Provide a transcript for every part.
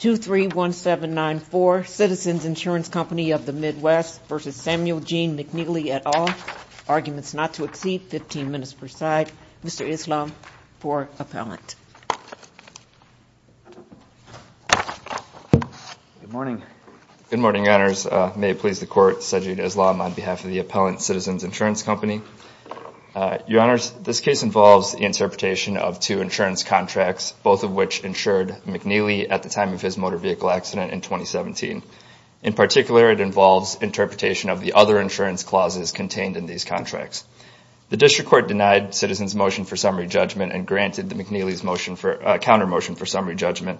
at all. Arguments not to exceed 15 minutes per side. Mr. Islam for appellant. Good morning. Good morning, Your Honors. May it please the Court, Sajid Islam on behalf of the Appellant Citizens Insurance Company. Your Honors, this case involves the interpretation of two insurance contracts, both of which insured by Mr. Samuel McNeeley at the time of his motor vehicle accident in 2017. In particular, it involves interpretation of the other insurance clauses contained in these contracts. The District Court denied Citizens' motion for summary judgment and granted the McNeeley's motion for, counter motion for summary judgment.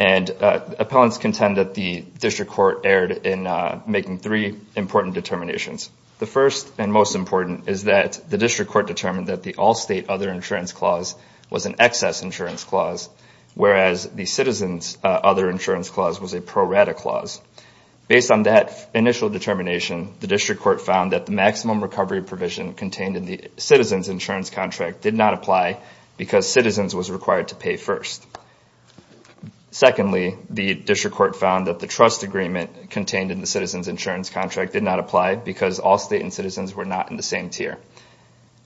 And appellants contend that the District Court erred in making three important determinations. The first and most important is that the District Court determined that the all-state other insurance clause was an excess insurance clause, whereas the Citizens' other insurance clause was a pro-rata clause. Based on that initial determination, the District Court found that the maximum recovery provision contained in the Citizens' insurance contract did not apply because Citizens was required to pay first. Secondly, the District Court found that the trust agreement contained in the Citizens' insurance contract did not apply because all state and Citizens were not in the same tier.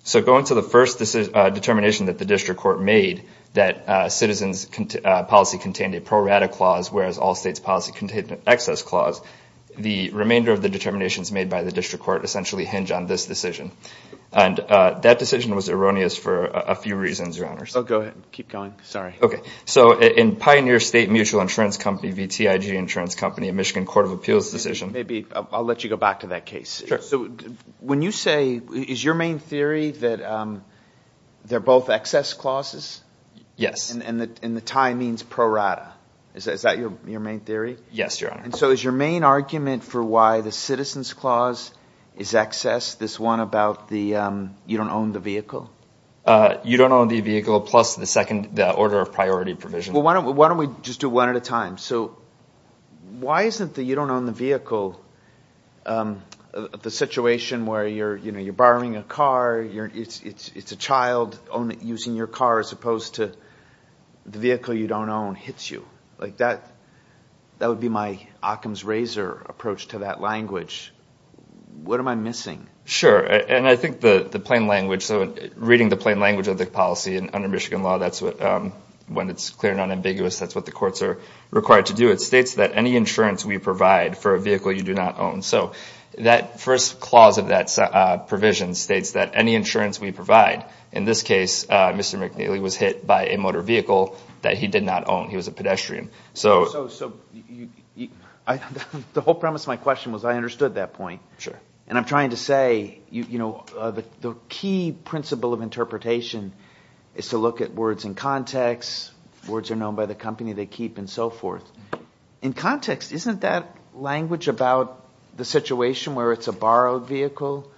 So going to the first determination that the District Court made, that Citizens' policy contained a pro-rata clause, whereas all states' policy contained an excess clause, the remainder of the determinations made by the District Court essentially hinge on this decision. And that decision was erroneous for a few reasons, Your Honors. Oh, go ahead. Keep going. Sorry. Okay. So in Pioneer State Mutual Insurance Company v. TIG Insurance Company, a Michigan Court of Appeals decision Maybe I'll let you go back to that case. Sure. So when you say, is your main theory that they're both excess clauses? Yes. And the tie means pro-rata. Is that your main theory? Yes, Your Honor. And so is your main argument for why the Citizens' clause is excess this one about the you don't own the vehicle? You don't own the vehicle plus the order of priority provision. Well, why don't we just do one at a time? So why isn't the you don't own the vehicle the situation where you're borrowing a car, it's a child using your car as opposed to the vehicle you don't own hits you? Like that would be my Occam's razor approach to that language. What am I missing? Sure. And I think the plain language, so reading the plain language of the policy under Michigan law, that's when it's clear and unambiguous, that's what the courts are required to do. It states that any insurance we provide for a vehicle you do not own. So that first clause of that provision states that any insurance we provide, in this case, Mr. McNeely was hit by a motor vehicle that he did not own. He was a pedestrian. So the whole premise of my question was I understood that point. And I'm trying to say, you know, the key principle of interpretation is to look at words in context. Words are known by the company they keep and so forth. In context, isn't that language about the situation where it's a borrowed vehicle?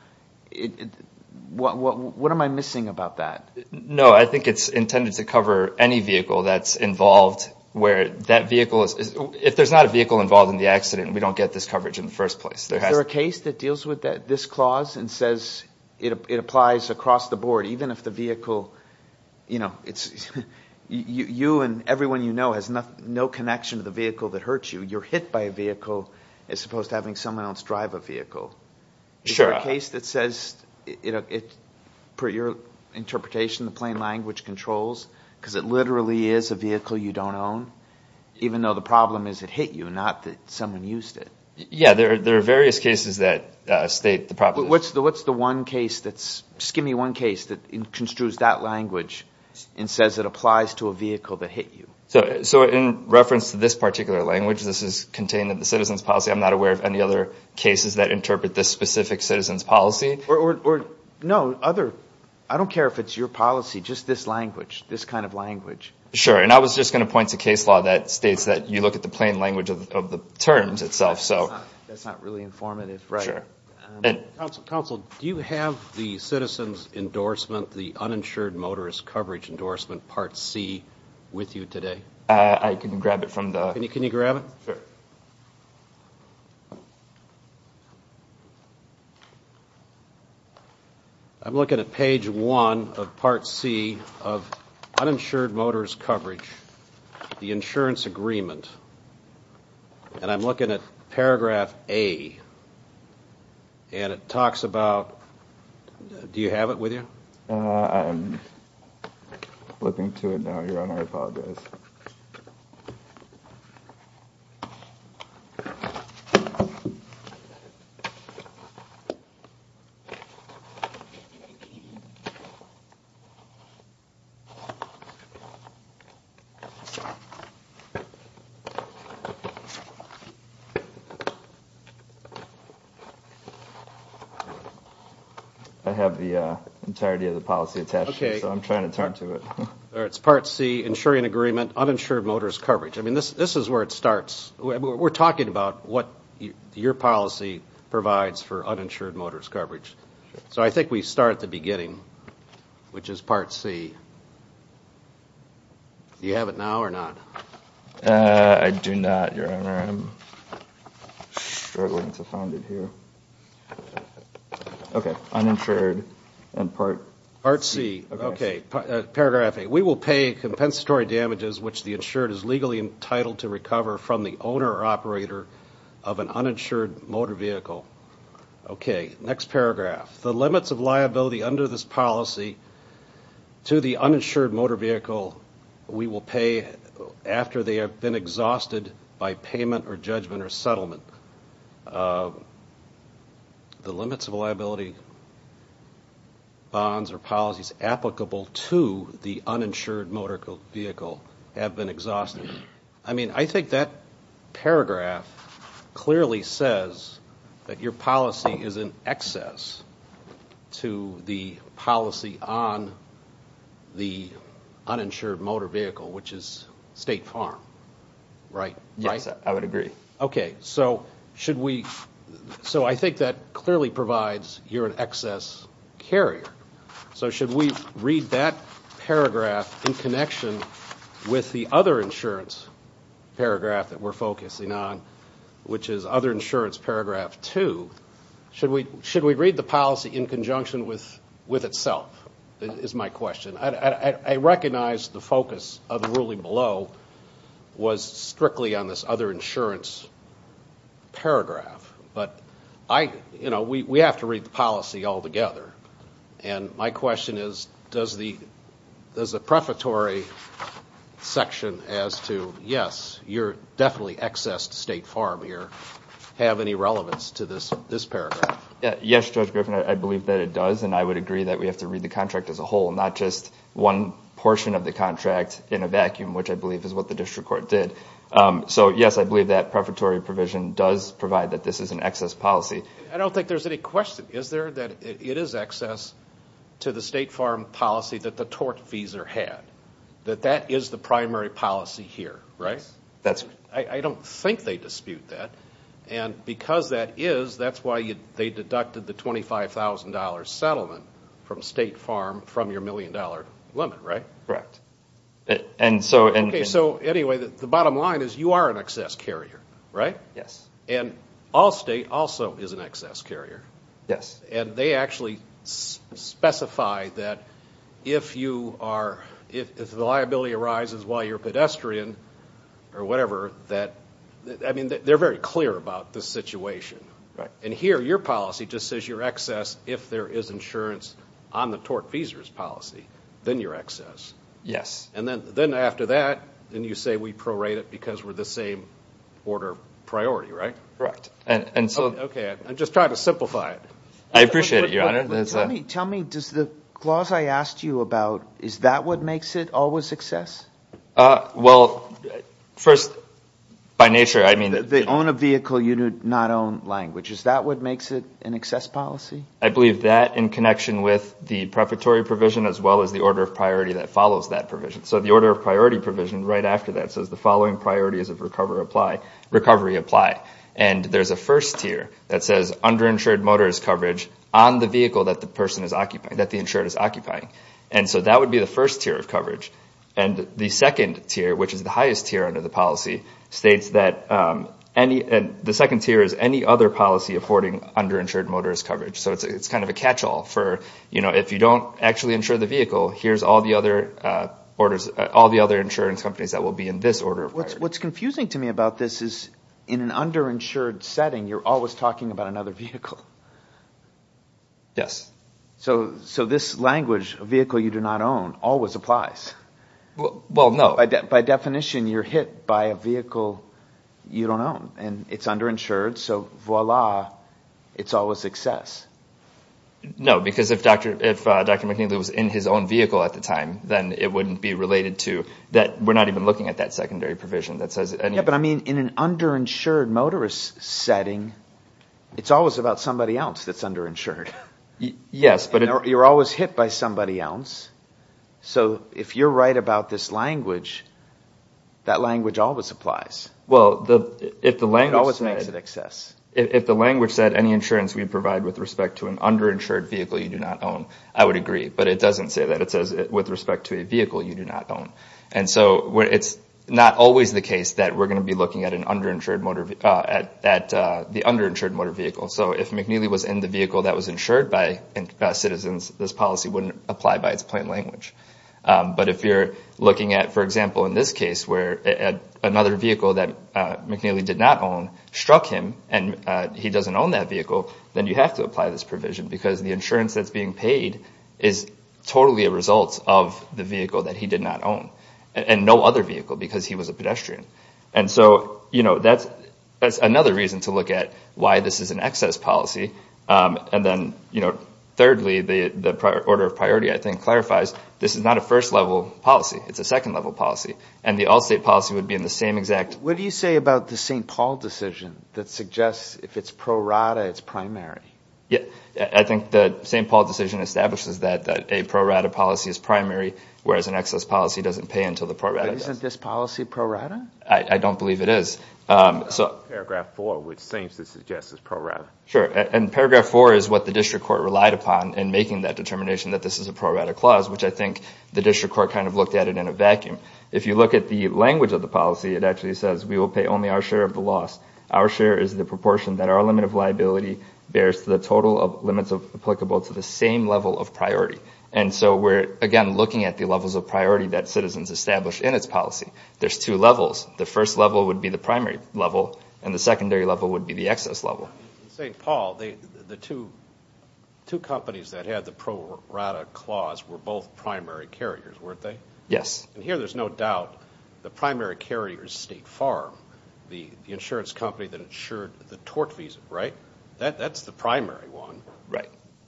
What am I missing about that? No, I think it's intended to cover any vehicle that's involved where that vehicle is. If there's not a vehicle involved in the accident, we don't get this coverage in the first place. Is there a case that deals with this clause and says it applies across the board, even if the vehicle, you know, you and everyone you know has no connection to the vehicle that hurt you. You're hit by a vehicle as opposed to having someone else drive a vehicle. Is there a case that says, per your interpretation, the plain language controls, because it literally is a vehicle you don't own, even though the problem is it hit you, not that someone used it? Yeah, there are various cases that state the problem. What's the one case that's, just give me one case that construes that language and says it applies to a vehicle that hit you? So in reference to this particular language, this is contained in the citizen's policy. I'm not aware of any other cases that interpret this specific citizen's policy. Or, no, other, I don't care if it's your policy, just this language, this kind of language. Sure, and I was just going to point to case law that states that you look at the plain language of the terms itself, so. That's not really informative. Counsel, do you have the citizen's endorsement, the uninsured motorist coverage endorsement, Part C, with you today? I can grab it from the. Can you grab it? I'm looking at page one of Part C of uninsured motorist coverage, the insurance agreement. And I'm looking at paragraph A, and it talks about, do you have it with you? I'm flipping to it now, Your Honor, I apologize. I have the entirety of the policy attached, so I'm trying to turn to it. It's Part C, insuring agreement, uninsured motorist coverage. I mean, this is where it starts. We're talking about what your policy provides for uninsured motorist coverage. So I think we start at the beginning, which is Part C. Do you have it now or not? I do not, Your Honor. I'm struggling to find it here. Okay, uninsured and Part C. Paragraph A, we will pay compensatory damages which the insured is legally entitled to recover from the owner or operator of an uninsured motor vehicle. Okay, next paragraph. The limits of liability under this policy to the uninsured motor vehicle we will pay after they have been exhausted by payment or judgment or settlement. The limits of liability, bonds or policies applicable to the uninsured motor vehicle have been exhausted. I mean, I think that paragraph clearly says that your policy is in excess to the policy on the uninsured motor vehicle, which is State Farm, right? Yes, I would agree. Okay, so I think that clearly provides you're an excess carrier. So should we read that paragraph in connection with the other insurance paragraph that we're focusing on, which is other insurance paragraph 2? Should we read the policy in conjunction with itself, is my question. I recognize the focus of the ruling below was strictly on this other insurance paragraph, but we have to read the policy altogether. And my question is, does the prefatory section as to, yes, you're definitely excess to State Farm here, have any relevance to this paragraph? Yes, Judge Griffin, I believe that it does, and I would agree that we have to read the contract as a whole, not just one portion of the contract in a vacuum, which I believe is what the district court did. So, yes, I believe that prefatory provision does provide that this is an excess policy. I don't think there's any question. Is there that it is excess to the State Farm policy that the tort fees are had? That that is the primary policy here, right? Yes. I don't think they dispute that. And because that is, that's why they deducted the $25,000 settlement from State Farm from your million-dollar limit, right? Correct. Okay, so anyway, the bottom line is you are an excess carrier, right? Yes. And Allstate also is an excess carrier. Yes. And they actually specify that if the liability arises while you're a pedestrian or whatever, that, I mean, they're very clear about the situation. Right. And here, your policy just says you're excess if there is insurance on the tort fees policy, then you're excess. Yes. And then after that, then you say we prorate it because we're the same order priority, right? Correct. Okay, I'm just trying to simplify it. I appreciate it, Your Honor. Tell me, does the clause I asked you about, is that what makes it always excess? Well, first, by nature, I mean that they own a vehicle, you do not own language. Is that what makes it an excess policy? I believe that in connection with the preparatory provision as well as the order of priority that follows that provision. So the order of priority provision right after that says the following priorities of recovery apply. And there's a first tier that says underinsured motorist coverage on the vehicle that the person is occupying, that the insured is occupying. And so that would be the first tier of coverage. And the second tier, which is the highest tier under the policy, states that the second tier is any other policy affording underinsured motorist coverage. So it's kind of a catchall for if you don't actually insure the vehicle, here's all the other insurance companies that will be in this order of priority. What's confusing to me about this is in an underinsured setting, you're always talking about another vehicle. Yes. So this language, a vehicle you do not own, always applies. Well, no. By definition, you're hit by a vehicle you don't own. And it's underinsured, so voila, it's always excess. No, because if Dr. McNeely was in his own vehicle at the time, then it wouldn't be related to that. We're not even looking at that secondary provision. But I mean, in an underinsured motorist setting, it's always about somebody else that's underinsured. Yes. You're always hit by somebody else. So if you're right about this language, that language always applies. It always makes it excess. If the language said any insurance we provide with respect to an underinsured vehicle you do not own, I would agree. But it doesn't say that. It says with respect to a vehicle you do not own. And so it's not always the case that we're going to be looking at the underinsured motor vehicle. So if McNeely was in the vehicle that was insured by Citizens, this policy wouldn't apply by its plain language. But if you're looking at, for example, in this case where another vehicle that McNeely did not own struck him and he doesn't own that vehicle, then you have to apply this provision because the insurance that's being paid is totally a result of the vehicle that he did not own and no other vehicle because he was a pedestrian. And so that's another reason to look at why this is an excess policy. And then thirdly, the order of priority, I think, clarifies this is not a first-level policy. It's a second-level policy. And the Allstate policy would be in the same exact… What do you say about the St. Paul decision that suggests if it's pro rata, it's primary? I think the St. Paul decision establishes that a pro rata policy is primary, whereas an excess policy doesn't pay until the pro rata does. But isn't this policy pro rata? I don't believe it is. Paragraph 4, which seems to suggest it's pro rata. Sure, and Paragraph 4 is what the District Court relied upon in making that determination that this is a pro rata clause, which I think the District Court kind of looked at it in a vacuum. If you look at the language of the policy, it actually says we will pay only our share of the loss. Our share is the proportion that our limit of liability bears to the total of limits applicable to the same level of priority. And so we're, again, looking at the levels of priority that citizens establish in its policy. There's two levels. The first level would be the primary level, and the secondary level would be the excess level. In St. Paul, the two companies that had the pro rata clause were both primary carriers, weren't they? Yes. And here there's no doubt the primary carrier is State Farm. The insurance company that insured the tort visa, right? That's the primary one.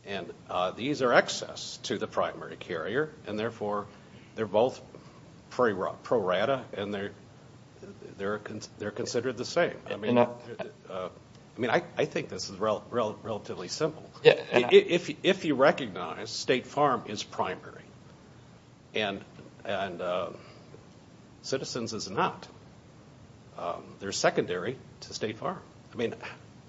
And these are excess to the primary carrier, and therefore they're both pro rata and they're considered the same. I mean, I think this is relatively simple. If you recognize State Farm is primary and citizens is not, they're secondary to State Farm. I mean,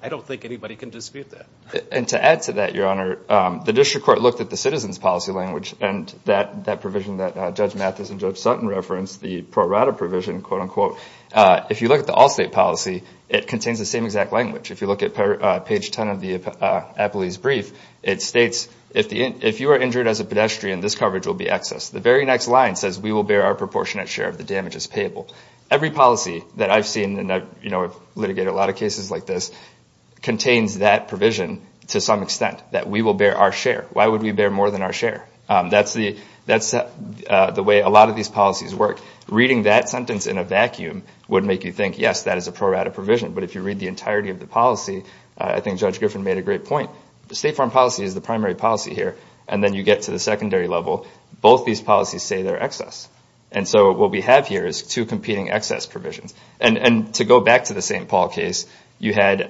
I don't think anybody can dispute that. And to add to that, Your Honor, the District Court looked at the citizens policy language and that provision that Judge Mathis and Judge Sutton referenced, the pro rata provision, quote, unquote, if you look at the all-state policy, it contains the same exact language. If you look at page 10 of the appellee's brief, it states, if you are injured as a pedestrian, this coverage will be excess. The very next line says we will bear our proportionate share of the damages payable. Every policy that I've seen, and I've litigated a lot of cases like this, contains that provision to some extent, that we will bear our share. Why would we bear more than our share? That's the way a lot of these policies work. Reading that sentence in a vacuum would make you think, yes, that is a pro rata provision. But if you read the entirety of the policy, I think Judge Griffin made a great point. The State Farm policy is the primary policy here. And then you get to the secondary level. Both these policies say they're excess. And so what we have here is two competing excess provisions. And to go back to the St. Paul case, you had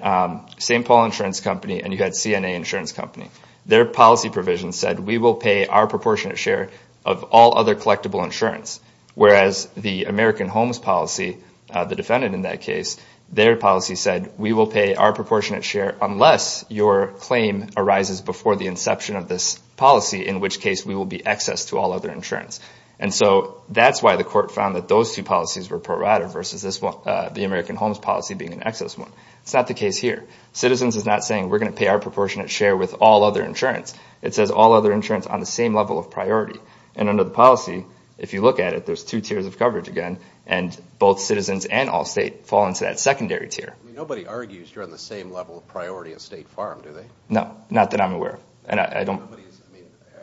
St. Paul Insurance Company and you had CNA Insurance Company. Their policy provision said we will pay our proportionate share of all other collectible insurance, whereas the American Homes policy, the defendant in that case, their policy said we will pay our proportionate share unless your claim arises before the inception of this policy, in which case we will be excess to all other insurance. And so that's why the court found that those two policies were pro rata versus the American Homes policy being an excess one. It's not the case here. Citizens is not saying we're going to pay our proportionate share with all other insurance. It says all other insurance on the same level of priority. And under the policy, if you look at it, there's two tiers of coverage again, and both citizens and all state fall into that secondary tier. Nobody argues you're on the same level of priority as State Farm, do they? No, not that I'm aware of.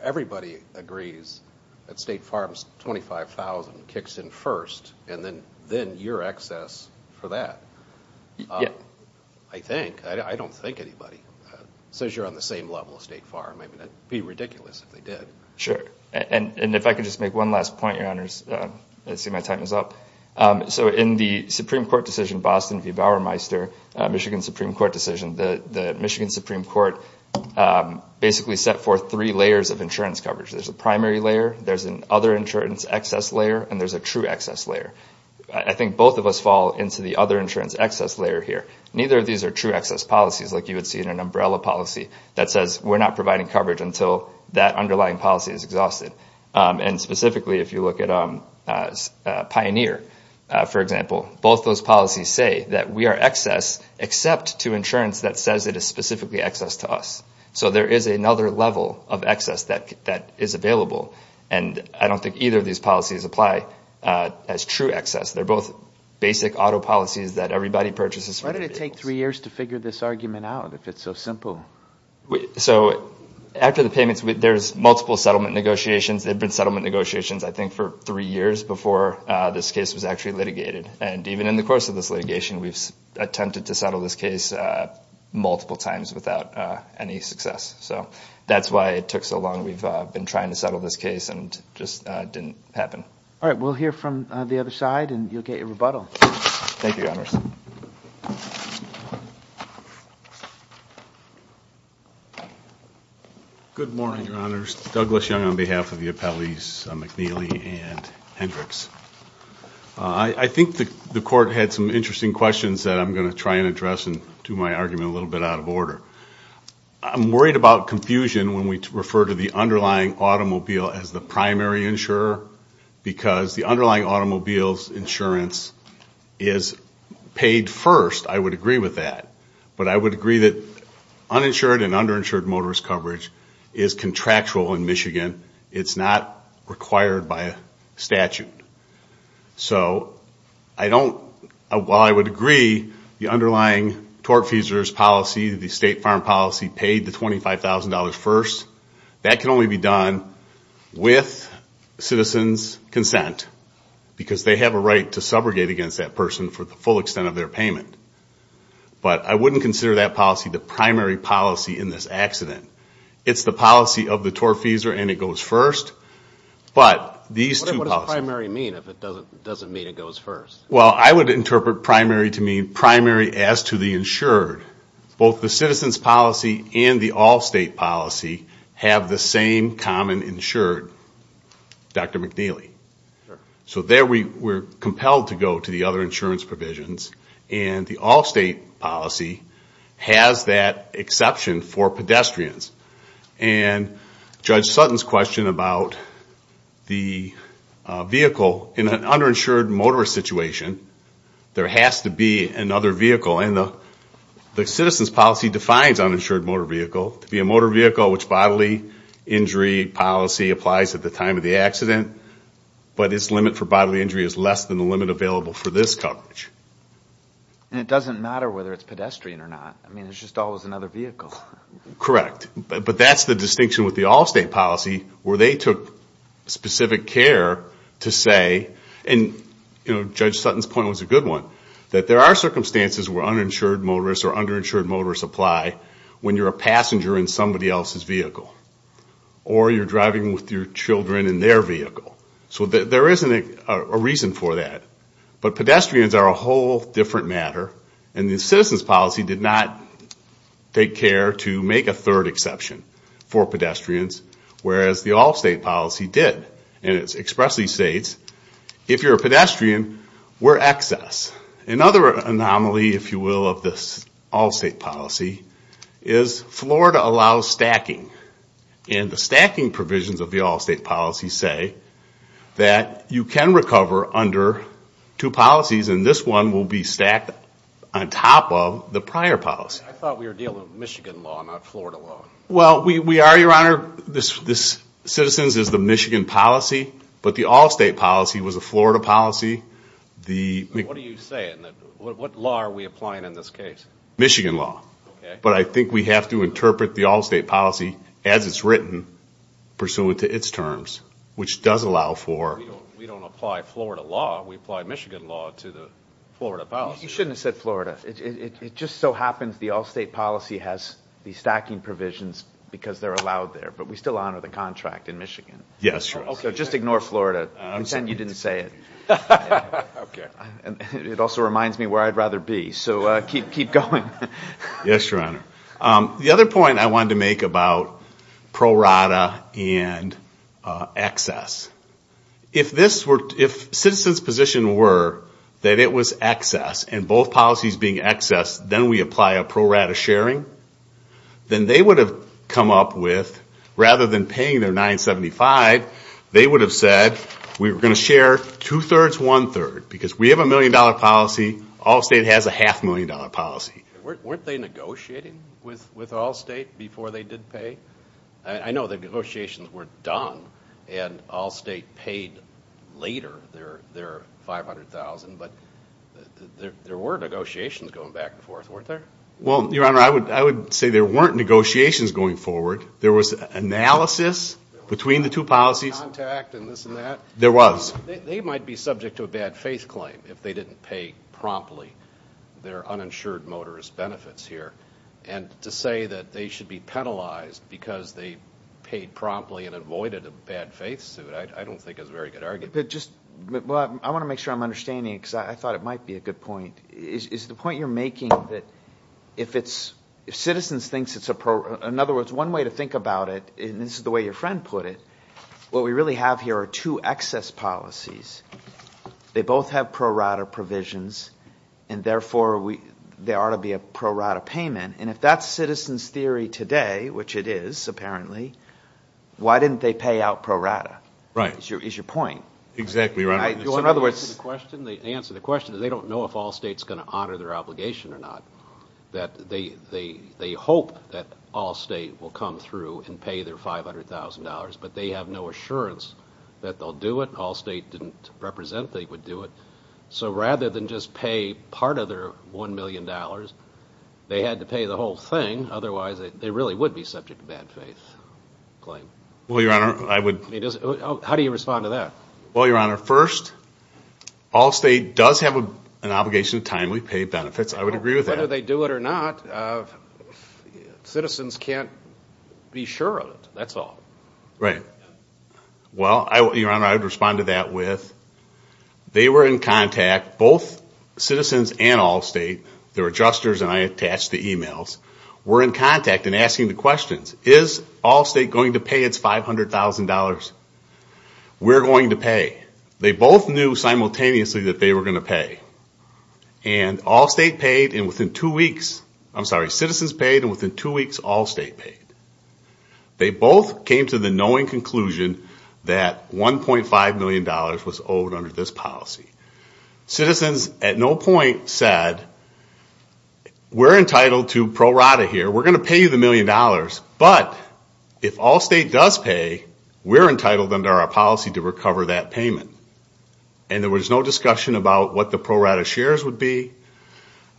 Everybody agrees that State Farm's $25,000 kicks in first, and then you're excess for that. I think. I don't think anybody says you're on the same level as State Farm. It would be ridiculous if they did. Sure. And if I could just make one last point, Your Honors. I see my time is up. So in the Supreme Court decision, Boston v. Bauermeister, Michigan Supreme Court decision, the Michigan Supreme Court basically set forth three layers of insurance coverage. There's a primary layer, there's an other insurance excess layer, and there's a true excess layer. I think both of us fall into the other insurance excess layer here. Neither of these are true excess policies like you would see in an umbrella policy that says we're not providing coverage until that underlying policy is exhausted. And specifically if you look at Pioneer, for example, both those policies say that we are excess except to insurance that says it is specifically excess to us. So there is another level of excess that is available, and I don't think either of these policies apply as true excess. They're both basic auto policies that everybody purchases for their vehicles. How long does it take three years to figure this argument out if it's so simple? So after the payments, there's multiple settlement negotiations. There have been settlement negotiations, I think, for three years before this case was actually litigated. And even in the course of this litigation, we've attempted to settle this case multiple times without any success. So that's why it took so long. We've been trying to settle this case and it just didn't happen. All right. We'll hear from the other side, and you'll get your rebuttal. Thank you, Your Honors. Good morning, Your Honors. Douglas Young on behalf of the appellees McNeely and Hendricks. I think the Court had some interesting questions that I'm going to try and address and do my argument a little bit out of order. I'm worried about confusion when we refer to the underlying automobile as the primary insurer because the underlying automobile's insurance is paid first. I would agree with that. But I would agree that uninsured and underinsured motorist coverage is contractual in Michigan. It's not required by statute. So I don't – while I would agree the underlying tortfeasor's policy, the State Farm policy, paid the $25,000 first, that can only be done with citizens' consent because they have a right to subrogate against that person for the full extent of their payment. But I wouldn't consider that policy the primary policy in this accident. It's the policy of the tortfeasor and it goes first. But these two policies – What does primary mean if it doesn't mean it goes first? Well, I would interpret primary to mean primary as to the insured. Both the citizens' policy and the all-state policy have the same common insured, Dr. McNeely. So there we're compelled to go to the other insurance provisions. And the all-state policy has that exception for pedestrians. And Judge Sutton's question about the vehicle in an underinsured motorist situation, there has to be another vehicle. And the citizens' policy defines uninsured motor vehicle to be a motor vehicle which bodily injury policy applies at the time of the accident. But its limit for bodily injury is less than the limit available for this coverage. And it doesn't matter whether it's pedestrian or not. I mean, it's just always another vehicle. Correct. But that's the distinction with the all-state policy where they took specific care to say – and Judge Sutton's point was a good one – that there are circumstances where uninsured motorists or underinsured motorists apply when you're a passenger in somebody else's vehicle or you're driving with your children in their vehicle. So there isn't a reason for that. But pedestrians are a whole different matter. And the citizens' policy did not take care to make a third exception for pedestrians, whereas the all-state policy did. And it expressly states if you're a pedestrian, we're excess. Another anomaly, if you will, of this all-state policy is Florida allows stacking. And the stacking provisions of the all-state policy say that you can recover under two policies, and this one will be stacked on top of the prior policy. I thought we were dealing with Michigan law, not Florida law. Well, we are, Your Honor. This citizens is the Michigan policy, but the all-state policy was a Florida policy. What are you saying? What law are we applying in this case? Michigan law. Okay. But I think we have to interpret the all-state policy as it's written pursuant to its terms, which does allow for – We don't apply Florida law. We apply Michigan law to the Florida policy. You shouldn't have said Florida. It just so happens the all-state policy has the stacking provisions because they're allowed there, but we still honor the contract in Michigan. Yes, Your Honor. Okay, just ignore Florida. Pretend you didn't say it. Okay. It also reminds me where I'd rather be, so keep going. Yes, Your Honor. The other point I wanted to make about pro rata and excess, if citizens' position were that it was excess and both policies being excess, then we apply a pro rata sharing, then they would have come up with, rather than paying their 975, they would have said we were going to share two-thirds, one-third, because we have a million-dollar policy, all-state has a half-million-dollar policy. Weren't they negotiating with all-state before they did pay? I know the negotiations were done and all-state paid later their 500,000, but there were negotiations going back and forth, weren't there? Well, Your Honor, I would say there weren't negotiations going forward. There was analysis between the two policies. There was contact and this and that. There was. They might be subject to a bad faith claim if they didn't pay promptly their uninsured motorist benefits here, and to say that they should be penalized because they paid promptly and avoided a bad faith suit, I don't think is a very good argument. I want to make sure I'm understanding because I thought it might be a good point. Is the point you're making that if citizens think it's a pro rata, in other words, one way to think about it, and this is the way your friend put it, what we really have here are two excess policies. They both have pro rata provisions and, therefore, there ought to be a pro rata payment, and if that's citizens' theory today, which it is apparently, why didn't they pay out pro rata is your point. Exactly, Your Honor. In other words. To answer the question, they don't know if all-state is going to honor their obligation or not. They hope that all-state will come through and pay their $500,000, but they have no assurance that they'll do it. All-state didn't represent they would do it. So rather than just pay part of their $1 million, they had to pay the whole thing. Otherwise, they really would be subject to bad faith claim. Well, Your Honor, I would. How do you respond to that? Well, Your Honor, first, all-state does have an obligation to timely pay benefits. I would agree with that. Whether they do it or not, citizens can't be sure of it. That's all. Right. Well, Your Honor, I would respond to that with, they were in contact, both citizens and all-state, they're adjusters and I attached the emails, were in contact and asking the questions, is all-state going to pay its $500,000? We're going to pay. They both knew simultaneously that they were going to pay. And all-state paid, and within two weeks, I'm sorry, citizens paid, and within two weeks, all-state paid. They both came to the knowing conclusion that $1.5 million was owed under this policy. Citizens at no point said, we're entitled to pro rata here, we're going to pay you the million dollars, but if all-state does pay, we're entitled under our policy to recover that payment. And there was no discussion about what the pro rata shares would be.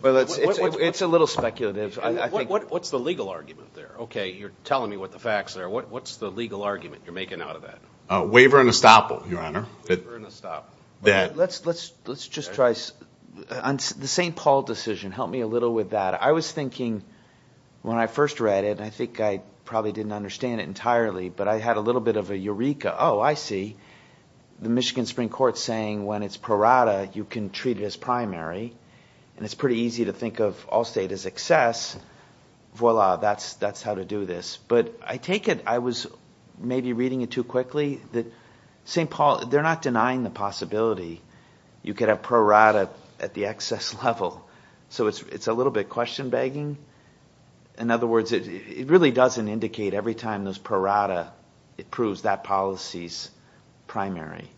Well, it's a little speculative. What's the legal argument there? Okay, you're telling me what the facts are. What's the legal argument you're making out of that? Waiver and estoppel, Your Honor. Waiver and estoppel. Let's just try, on the St. Paul decision, help me a little with that. I was thinking when I first read it, and I think I probably didn't understand it entirely, but I had a little bit of a eureka, oh, I see. The Michigan Supreme Court is saying when it's pro rata, you can treat it as primary, and it's pretty easy to think of all-state as excess. Voila, that's how to do this. But I take it I was maybe reading it too quickly. St. Paul, they're not denying the possibility you could have pro rata at the excess level. So it's a little bit question-begging. In other words, it really doesn't indicate every time there's pro rata, it proves that policy's primary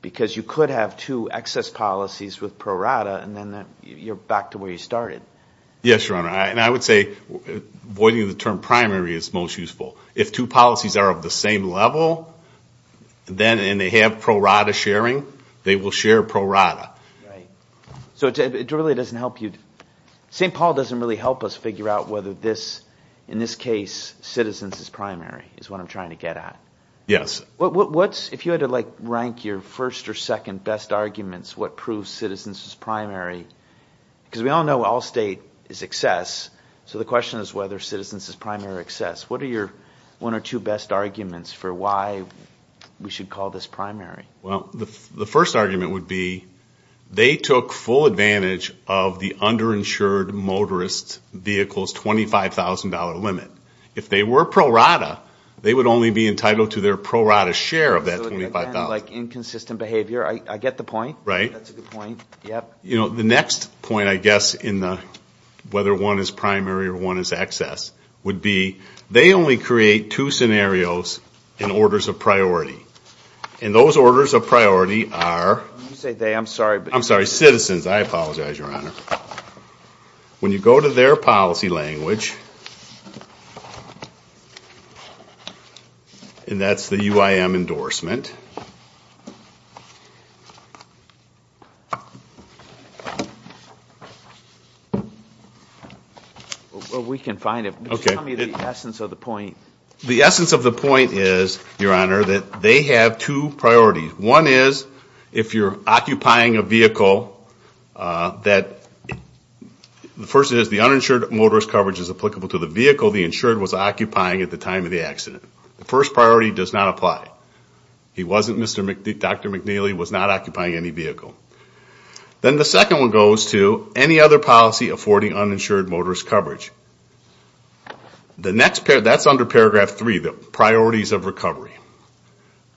because you could have two excess policies with pro rata, and then you're back to where you started. Yes, Your Honor, and I would say voiding the term primary is most useful. If two policies are of the same level, and they have pro rata sharing, they will share pro rata. Right. So it really doesn't help you. St. Paul doesn't really help us figure out whether this, in this case, citizens as primary, is what I'm trying to get at. Yes. If you had to rank your first or second best arguments, what proves citizens as primary, because we all know all state is excess, so the question is whether citizens is primary or excess. What are your one or two best arguments for why we should call this primary? Well, the first argument would be they took full advantage of the underinsured motorist vehicle's $25,000 limit. If they were pro rata, they would only be entitled to their pro rata share of that $25,000. So again, like inconsistent behavior. I get the point. Right. That's a good point. Yep. You know, the next point, I guess, in the whether one is primary or one is excess, would be they only create two scenarios in orders of priority. And those orders of priority are. When you say they, I'm sorry. I'm sorry, citizens. I apologize, Your Honor. When you go to their policy language, and that's the UIM endorsement. We can find it. Okay. Tell me the essence of the point. The essence of the point is, Your Honor, that they have two priorities. One is, if you're occupying a vehicle that. The first is the uninsured motorist coverage is applicable to the vehicle the insured was occupying at the time of the accident. The first priority does not apply. He wasn't, Dr. McNeely was not occupying any vehicle. Then the second one goes to any other policy affording uninsured motorist coverage. The next, that's under paragraph three, the priorities of recovery.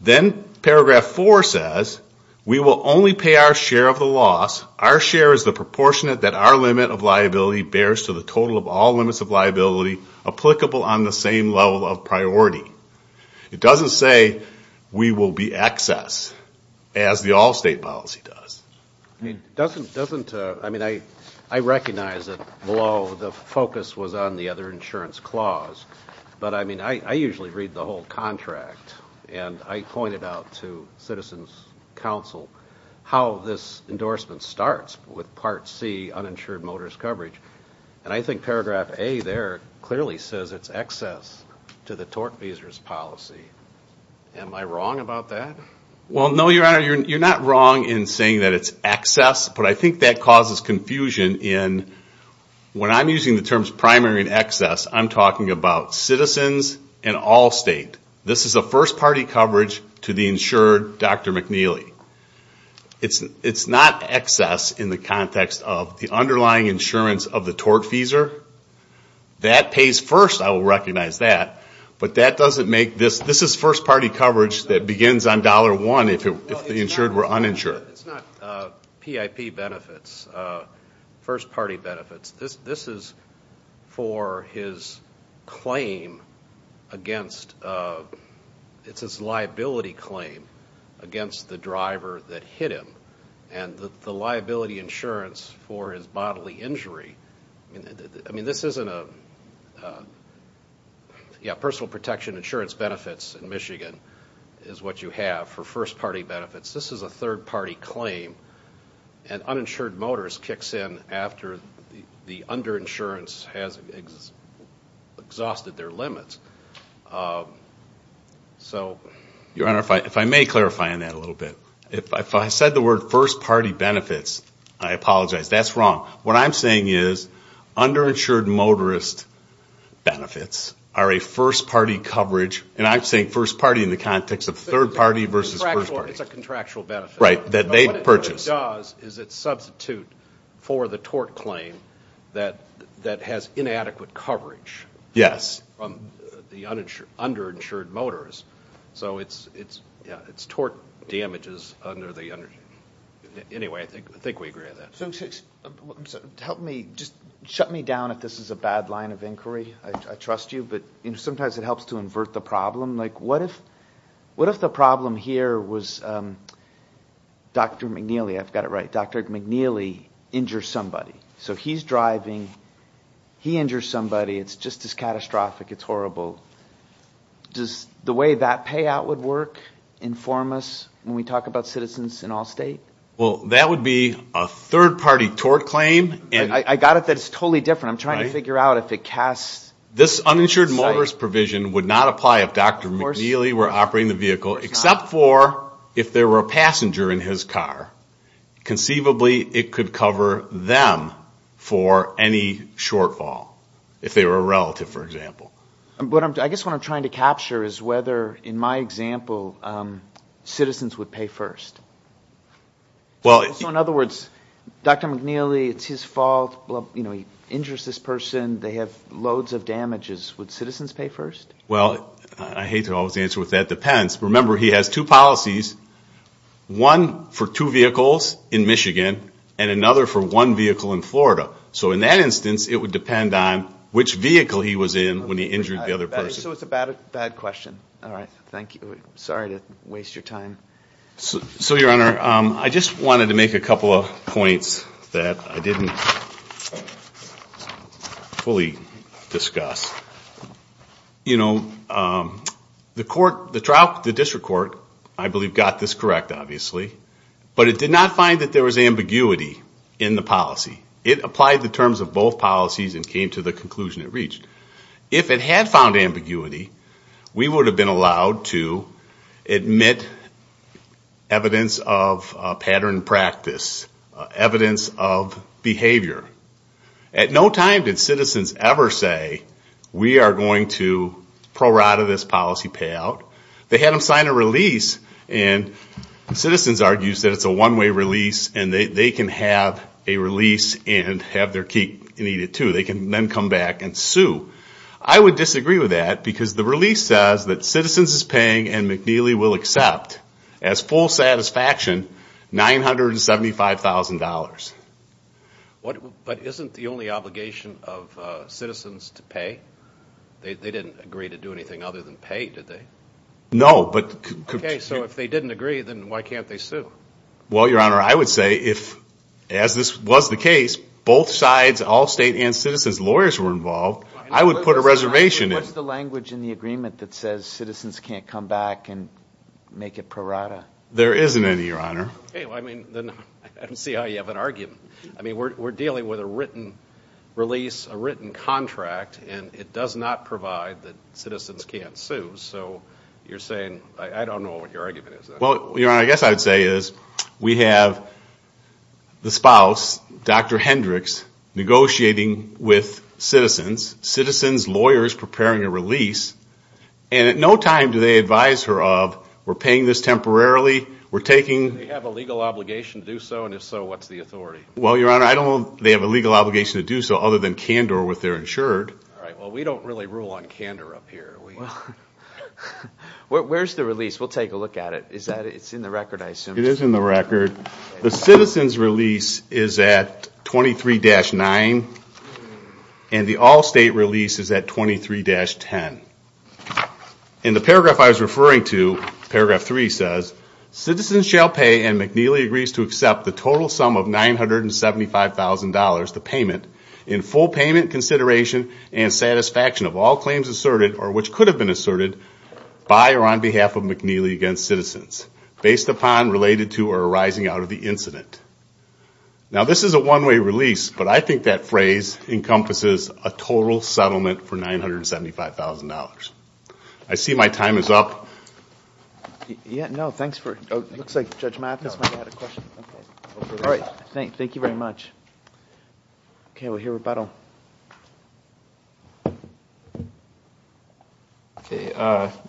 Then paragraph four says, we will only pay our share of the loss. Our share is the proportionate that our limit of liability bears to the total of all limits of liability applicable on the same level of priority. It doesn't say we will be excess, as the all-state policy does. It doesn't, I mean, I recognize that below the focus was on the other insurance clause. But, I mean, I usually read the whole contract. And I pointed out to Citizens Council how this endorsement starts with part C, uninsured motorist coverage. And I think paragraph A there clearly says it's excess to the tort visas policy. Am I wrong about that? Well, no, Your Honor, you're not wrong in saying that it's excess. But I think that causes confusion in, when I'm using the terms primary and excess, I'm talking about citizens and all-state. This is a first-party coverage to the insured Dr. McNeely. It's not excess in the context of the underlying insurance of the tort visa. That pays first, I will recognize that. But that doesn't make this, this is first-party coverage that begins on dollar one if the insured were uninsured. It's not PIP benefits, first-party benefits. This is for his claim against, it's his liability claim against the driver that hit him. And the liability insurance for his bodily injury, I mean, this isn't a, yeah, personal protection insurance benefits in Michigan is what you have for first-party benefits. This is a third-party claim. And uninsured motorist kicks in after the underinsurance has exhausted their limits. So, Your Honor, if I may clarify on that a little bit. If I said the word first-party benefits, I apologize, that's wrong. What I'm saying is underinsured motorist benefits are a first-party coverage, and I'm saying first-party in the context of third-party versus first-party. Contractual, it's a contractual benefit. Right, that they purchase. But what it does is it's substitute for the tort claim that has inadequate coverage. Yes. From the underinsured motorist. So it's, yeah, it's tort damages under the, anyway, I think we agree on that. Help me, just shut me down if this is a bad line of inquiry. I trust you, but sometimes it helps to invert the problem. Like what if the problem here was Dr. McNeely, I've got it right, Dr. McNeely injures somebody. So he's driving, he injures somebody, it's just as catastrophic, it's horrible. Does the way that payout would work inform us when we talk about citizens in all state? Well, that would be a third-party tort claim. I got it that it's totally different. I'm trying to figure out if it casts. This uninsured motorist provision would not apply if Dr. McNeely were operating the vehicle, except for if there were a passenger in his car. Conceivably, it could cover them for any shortfall, if they were a relative, for example. I guess what I'm trying to capture is whether, in my example, citizens would pay first. So, in other words, Dr. McNeely, it's his fault, he injures this person, they have loads of damages. Would citizens pay first? Well, I hate to always answer with that depends. Remember, he has two policies, one for two vehicles in Michigan and another for one vehicle in Florida. So in that instance, it would depend on which vehicle he was in when he injured the other person. So it's a bad question. All right, thank you. Sorry to waste your time. So, Your Honor, I just wanted to make a couple of points that I didn't fully discuss. You know, the district court, I believe, got this correct, obviously, but it did not find that there was ambiguity in the policy. It applied the terms of both policies and came to the conclusion it reached. If it had found ambiguity, we would have been allowed to admit evidence of pattern practice, evidence of behavior. At no time did citizens ever say, we are going to prorate this policy payout. They had them sign a release, and citizens argue that it's a one-way release, and they can have a release and have their key needed, too. They can then come back and sue. I would disagree with that because the release says that citizens is paying and McNeely will accept, as full satisfaction, $975,000. But isn't the only obligation of citizens to pay? They didn't agree to do anything other than pay, did they? No. Okay, so if they didn't agree, then why can't they sue? Well, Your Honor, I would say if, as this was the case, both sides, all state and citizens lawyers were involved, I would put a reservation. What's the language in the agreement that says citizens can't come back and make it prorata? There isn't any, Your Honor. I don't see how you have an argument. We're dealing with a written release, a written contract, and it does not provide that citizens can't sue. So you're saying, I don't know what your argument is. Well, Your Honor, I guess I would say is we have the spouse, Dr. Hendricks, negotiating with citizens, citizens lawyers preparing a release, and at no time do they advise her of, we're paying this temporarily, we're taking... Do they have a legal obligation to do so, and if so, what's the authority? Well, Your Honor, I don't know if they have a legal obligation to do so other than candor with their insured. All right, well, we don't really rule on candor up here. Where's the release? We'll take a look at it. It's in the record, I assume. It is in the record. The citizen's release is at 23-9, and the all-state release is at 23-10. In the paragraph I was referring to, paragraph 3 says, citizens shall pay and McNeely agrees to accept the total sum of $975,000, the payment, in full payment consideration and satisfaction of all claims asserted or which could have been asserted by or on behalf of McNeely against citizens, based upon, related to, or arising out of the incident. Now, this is a one-way release, but I think that phrase encompasses a total settlement for $975,000. I see my time is up. Yeah, no, thanks for... It looks like Judge Mathis might have had a question. All right, thank you very much. Okay, we'll hear rebuttal. Your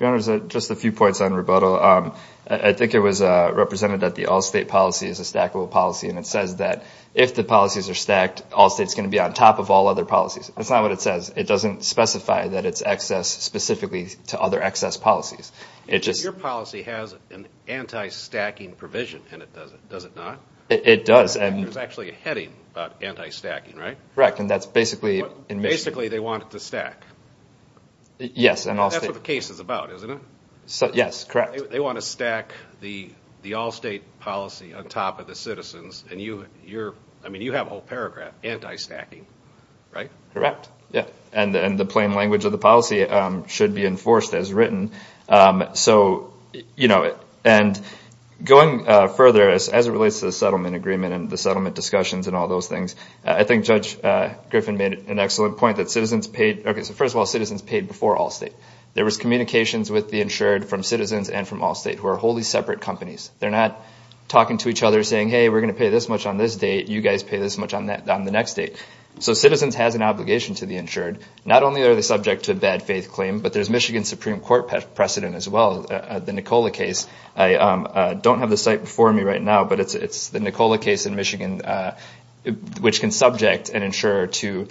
Honor, just a few points on rebuttal. I think it was represented that the all-state policy is a stackable policy, and it says that if the policies are stacked, all states are going to be on top of all other policies. That's not what it says. It doesn't specify that it's excess specifically to other excess policies. Your policy has an anti-stacking provision, and it doesn't, does it not? It does. There's actually a heading about anti-stacking, right? Correct, and that's basically... Basically, they want it to stack. Yes. That's what the case is about, isn't it? Yes, correct. They want to stack the all-state policy on top of the citizens, and you have a whole paragraph, anti-stacking, right? Correct, yeah. And the plain language of the policy should be enforced as written. Going further, as it relates to the settlement agreement and the settlement discussions and all those things, I think Judge Griffin made an excellent point that citizens paid... Okay, so first of all, citizens paid before all-state. There was communications with the insured from citizens and from all-state who are wholly separate companies. They're not talking to each other saying, hey, we're going to pay this much on this date, you guys pay this much on the next date. So citizens has an obligation to the insured. Not only are they subject to a bad faith claim, but there's Michigan Supreme Court precedent as well, the Nicola case. I don't have the site before me right now, but it's the Nicola case in Michigan, which can subject an insurer to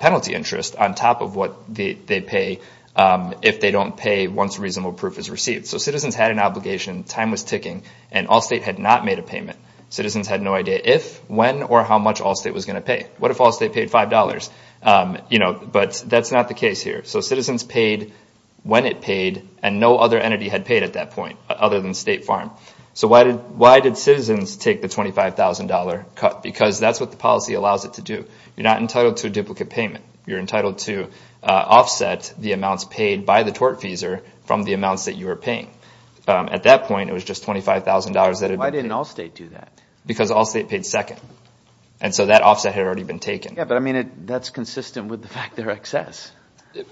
penalty interest on top of what they pay if they don't pay once reasonable proof is received. So citizens had an obligation, time was ticking, and all-state had not made a payment. Citizens had no idea if, when, or how much all-state was going to pay. What if all-state paid $5? But that's not the case here. So citizens paid when it paid, and no other entity had paid at that point other than State Farm. So why did citizens take the $25,000 cut? Because that's what the policy allows it to do. You're not entitled to a duplicate payment. You're entitled to offset the amounts paid by the tortfeasor from the amounts that you were paying. At that point, it was just $25,000 that had been paid. Why didn't all-state do that? Because all-state paid second. And so that offset had already been taken. Yeah, but, I mean, that's consistent with the fact they're excess.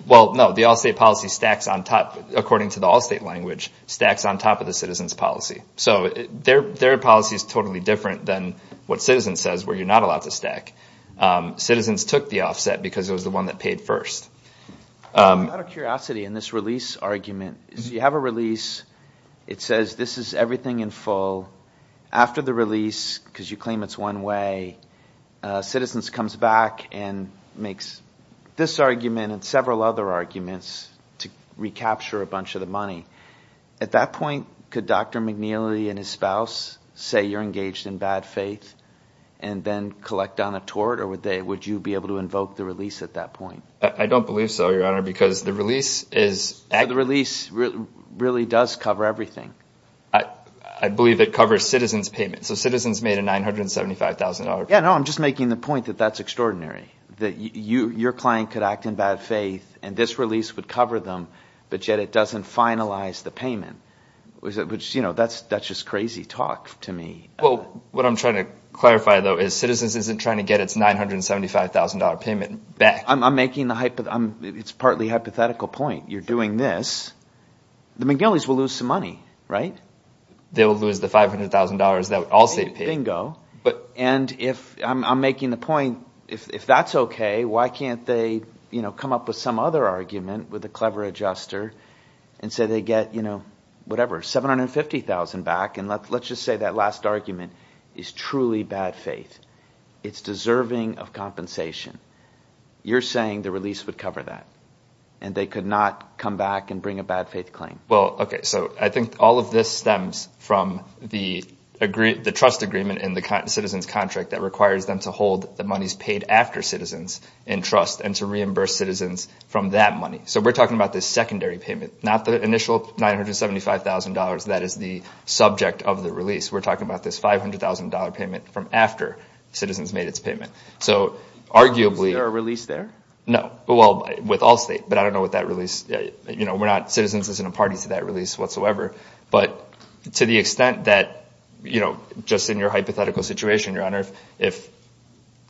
Well, no, the all-state policy stacks on top, according to the all-state language, stacks on top of the citizens' policy. So their policy is totally different than what citizens says, where you're not allowed to stack. Citizens took the offset because it was the one that paid first. Out of curiosity, in this release argument, you have a release, it says this is everything in full. After the release, because you claim it's one way, citizens comes back and makes this argument and several other arguments to recapture a bunch of the money. At that point, could Dr. McNeely and his spouse say you're engaged in bad faith and then collect on a tort, or would you be able to invoke the release at that point? I don't believe so, Your Honor, because the release is actually... So the release really does cover everything. I believe it covers citizens' payment. So citizens made a $975,000... Yeah, no, I'm just making the point that that's extraordinary, that your client could act in bad faith and this release would cover them, but yet it doesn't finalize the payment, which, you know, that's just crazy talk to me. Well, what I'm trying to clarify, though, is citizens isn't trying to get its $975,000 payment back. I'm making the hypothetical... It's partly a hypothetical point. You're doing this... The McNeelys will lose some money, right? They will lose the $500,000 that would also be paid. And I'm making the point, if that's okay, why can't they come up with some other argument with a clever adjuster and say they get, you know, whatever, $750,000 back, and let's just say that last argument is truly bad faith. It's deserving of compensation. You're saying the release would cover that and they could not come back and bring a bad faith claim. Well, okay, so I think all of this stems from the trust agreement in the citizens contract that requires them to hold the monies paid after citizens in trust and to reimburse citizens from that money. So we're talking about this secondary payment, not the initial $975,000 that is the subject of the release. We're talking about this $500,000 payment from after citizens made its payment. So arguably... Is there a release there? No. Well, with Allstate, but I don't know what that release... You know, we're not... Citizens isn't a party to that release whatsoever. But to the extent that, you know, just in your hypothetical situation, Your Honor, if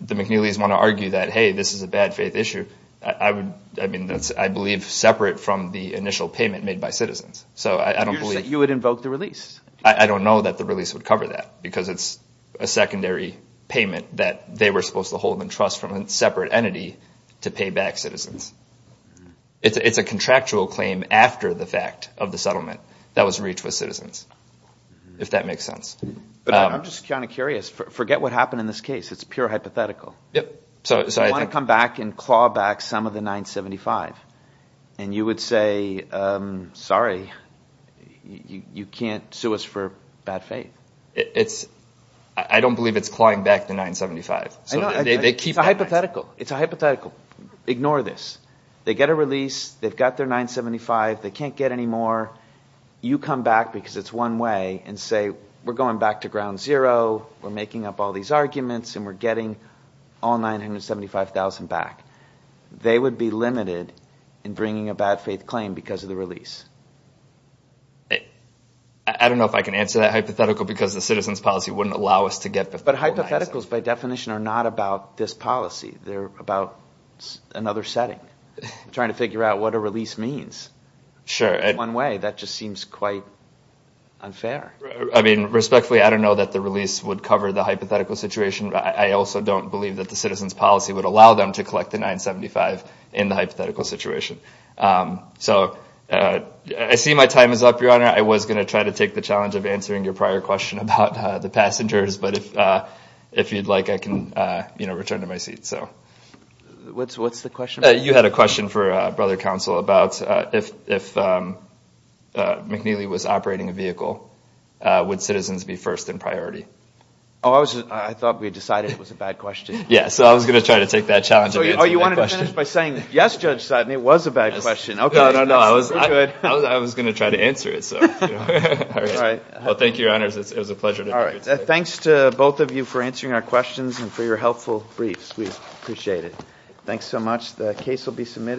the McNeelys want to argue that, hey, this is a bad faith issue, I would... I mean, that's, I believe, separate from the initial payment made by citizens. So I don't believe... You said you would invoke the release. I don't know that the release would cover that because it's a secondary payment that they were supposed to hold in trust from a separate entity to pay back citizens. It's a contractual claim after the fact of the settlement that was reached with citizens, if that makes sense. But I'm just kind of curious. Forget what happened in this case. It's pure hypothetical. Yep. So I think... You want to come back and claw back some of the $975,000, and you would say, sorry, you can't sue us for bad faith. It's... I don't believe it's clawing back the $975,000. So they keep... It's a hypothetical. It's a hypothetical. Ignore this. They get a release. They've got their $975,000. They can't get any more. You come back, because it's one way, and say, we're going back to ground zero, we're making up all these arguments, and we're getting all $975,000 back. They would be limited in bringing a bad faith claim because of the release. I don't know if I can answer that hypothetical because the citizens policy wouldn't allow us to get... But hypotheticals, by definition, are not about this policy. They're about another setting, trying to figure out what a release means. Sure. One way. That just seems quite unfair. I mean, respectfully, I don't know that the release would cover the hypothetical situation. I also don't believe that the citizens policy would allow them to collect the $975,000 in the hypothetical situation. So I see my time is up, Your Honor. I was going to try to take the challenge of answering your prior question about the passengers, but if you'd like, I can return to my seat. What's the question? You had a question for Brother Counsel about if McNeely was operating a vehicle, would citizens be first in priority? Oh, I thought we decided it was a bad question. Yeah, so I was going to try to take that challenge of answering that question. Oh, you wanted to finish by saying, yes, Judge Sutton, it was a bad question. Okay, I don't know. I was going to try to answer it. All right. Well, thank you, Your Honors. It was a pleasure. All right. Thanks to both of you for answering our questions and for your helpful briefs. We appreciate it. Thanks so much. The case will be submitted.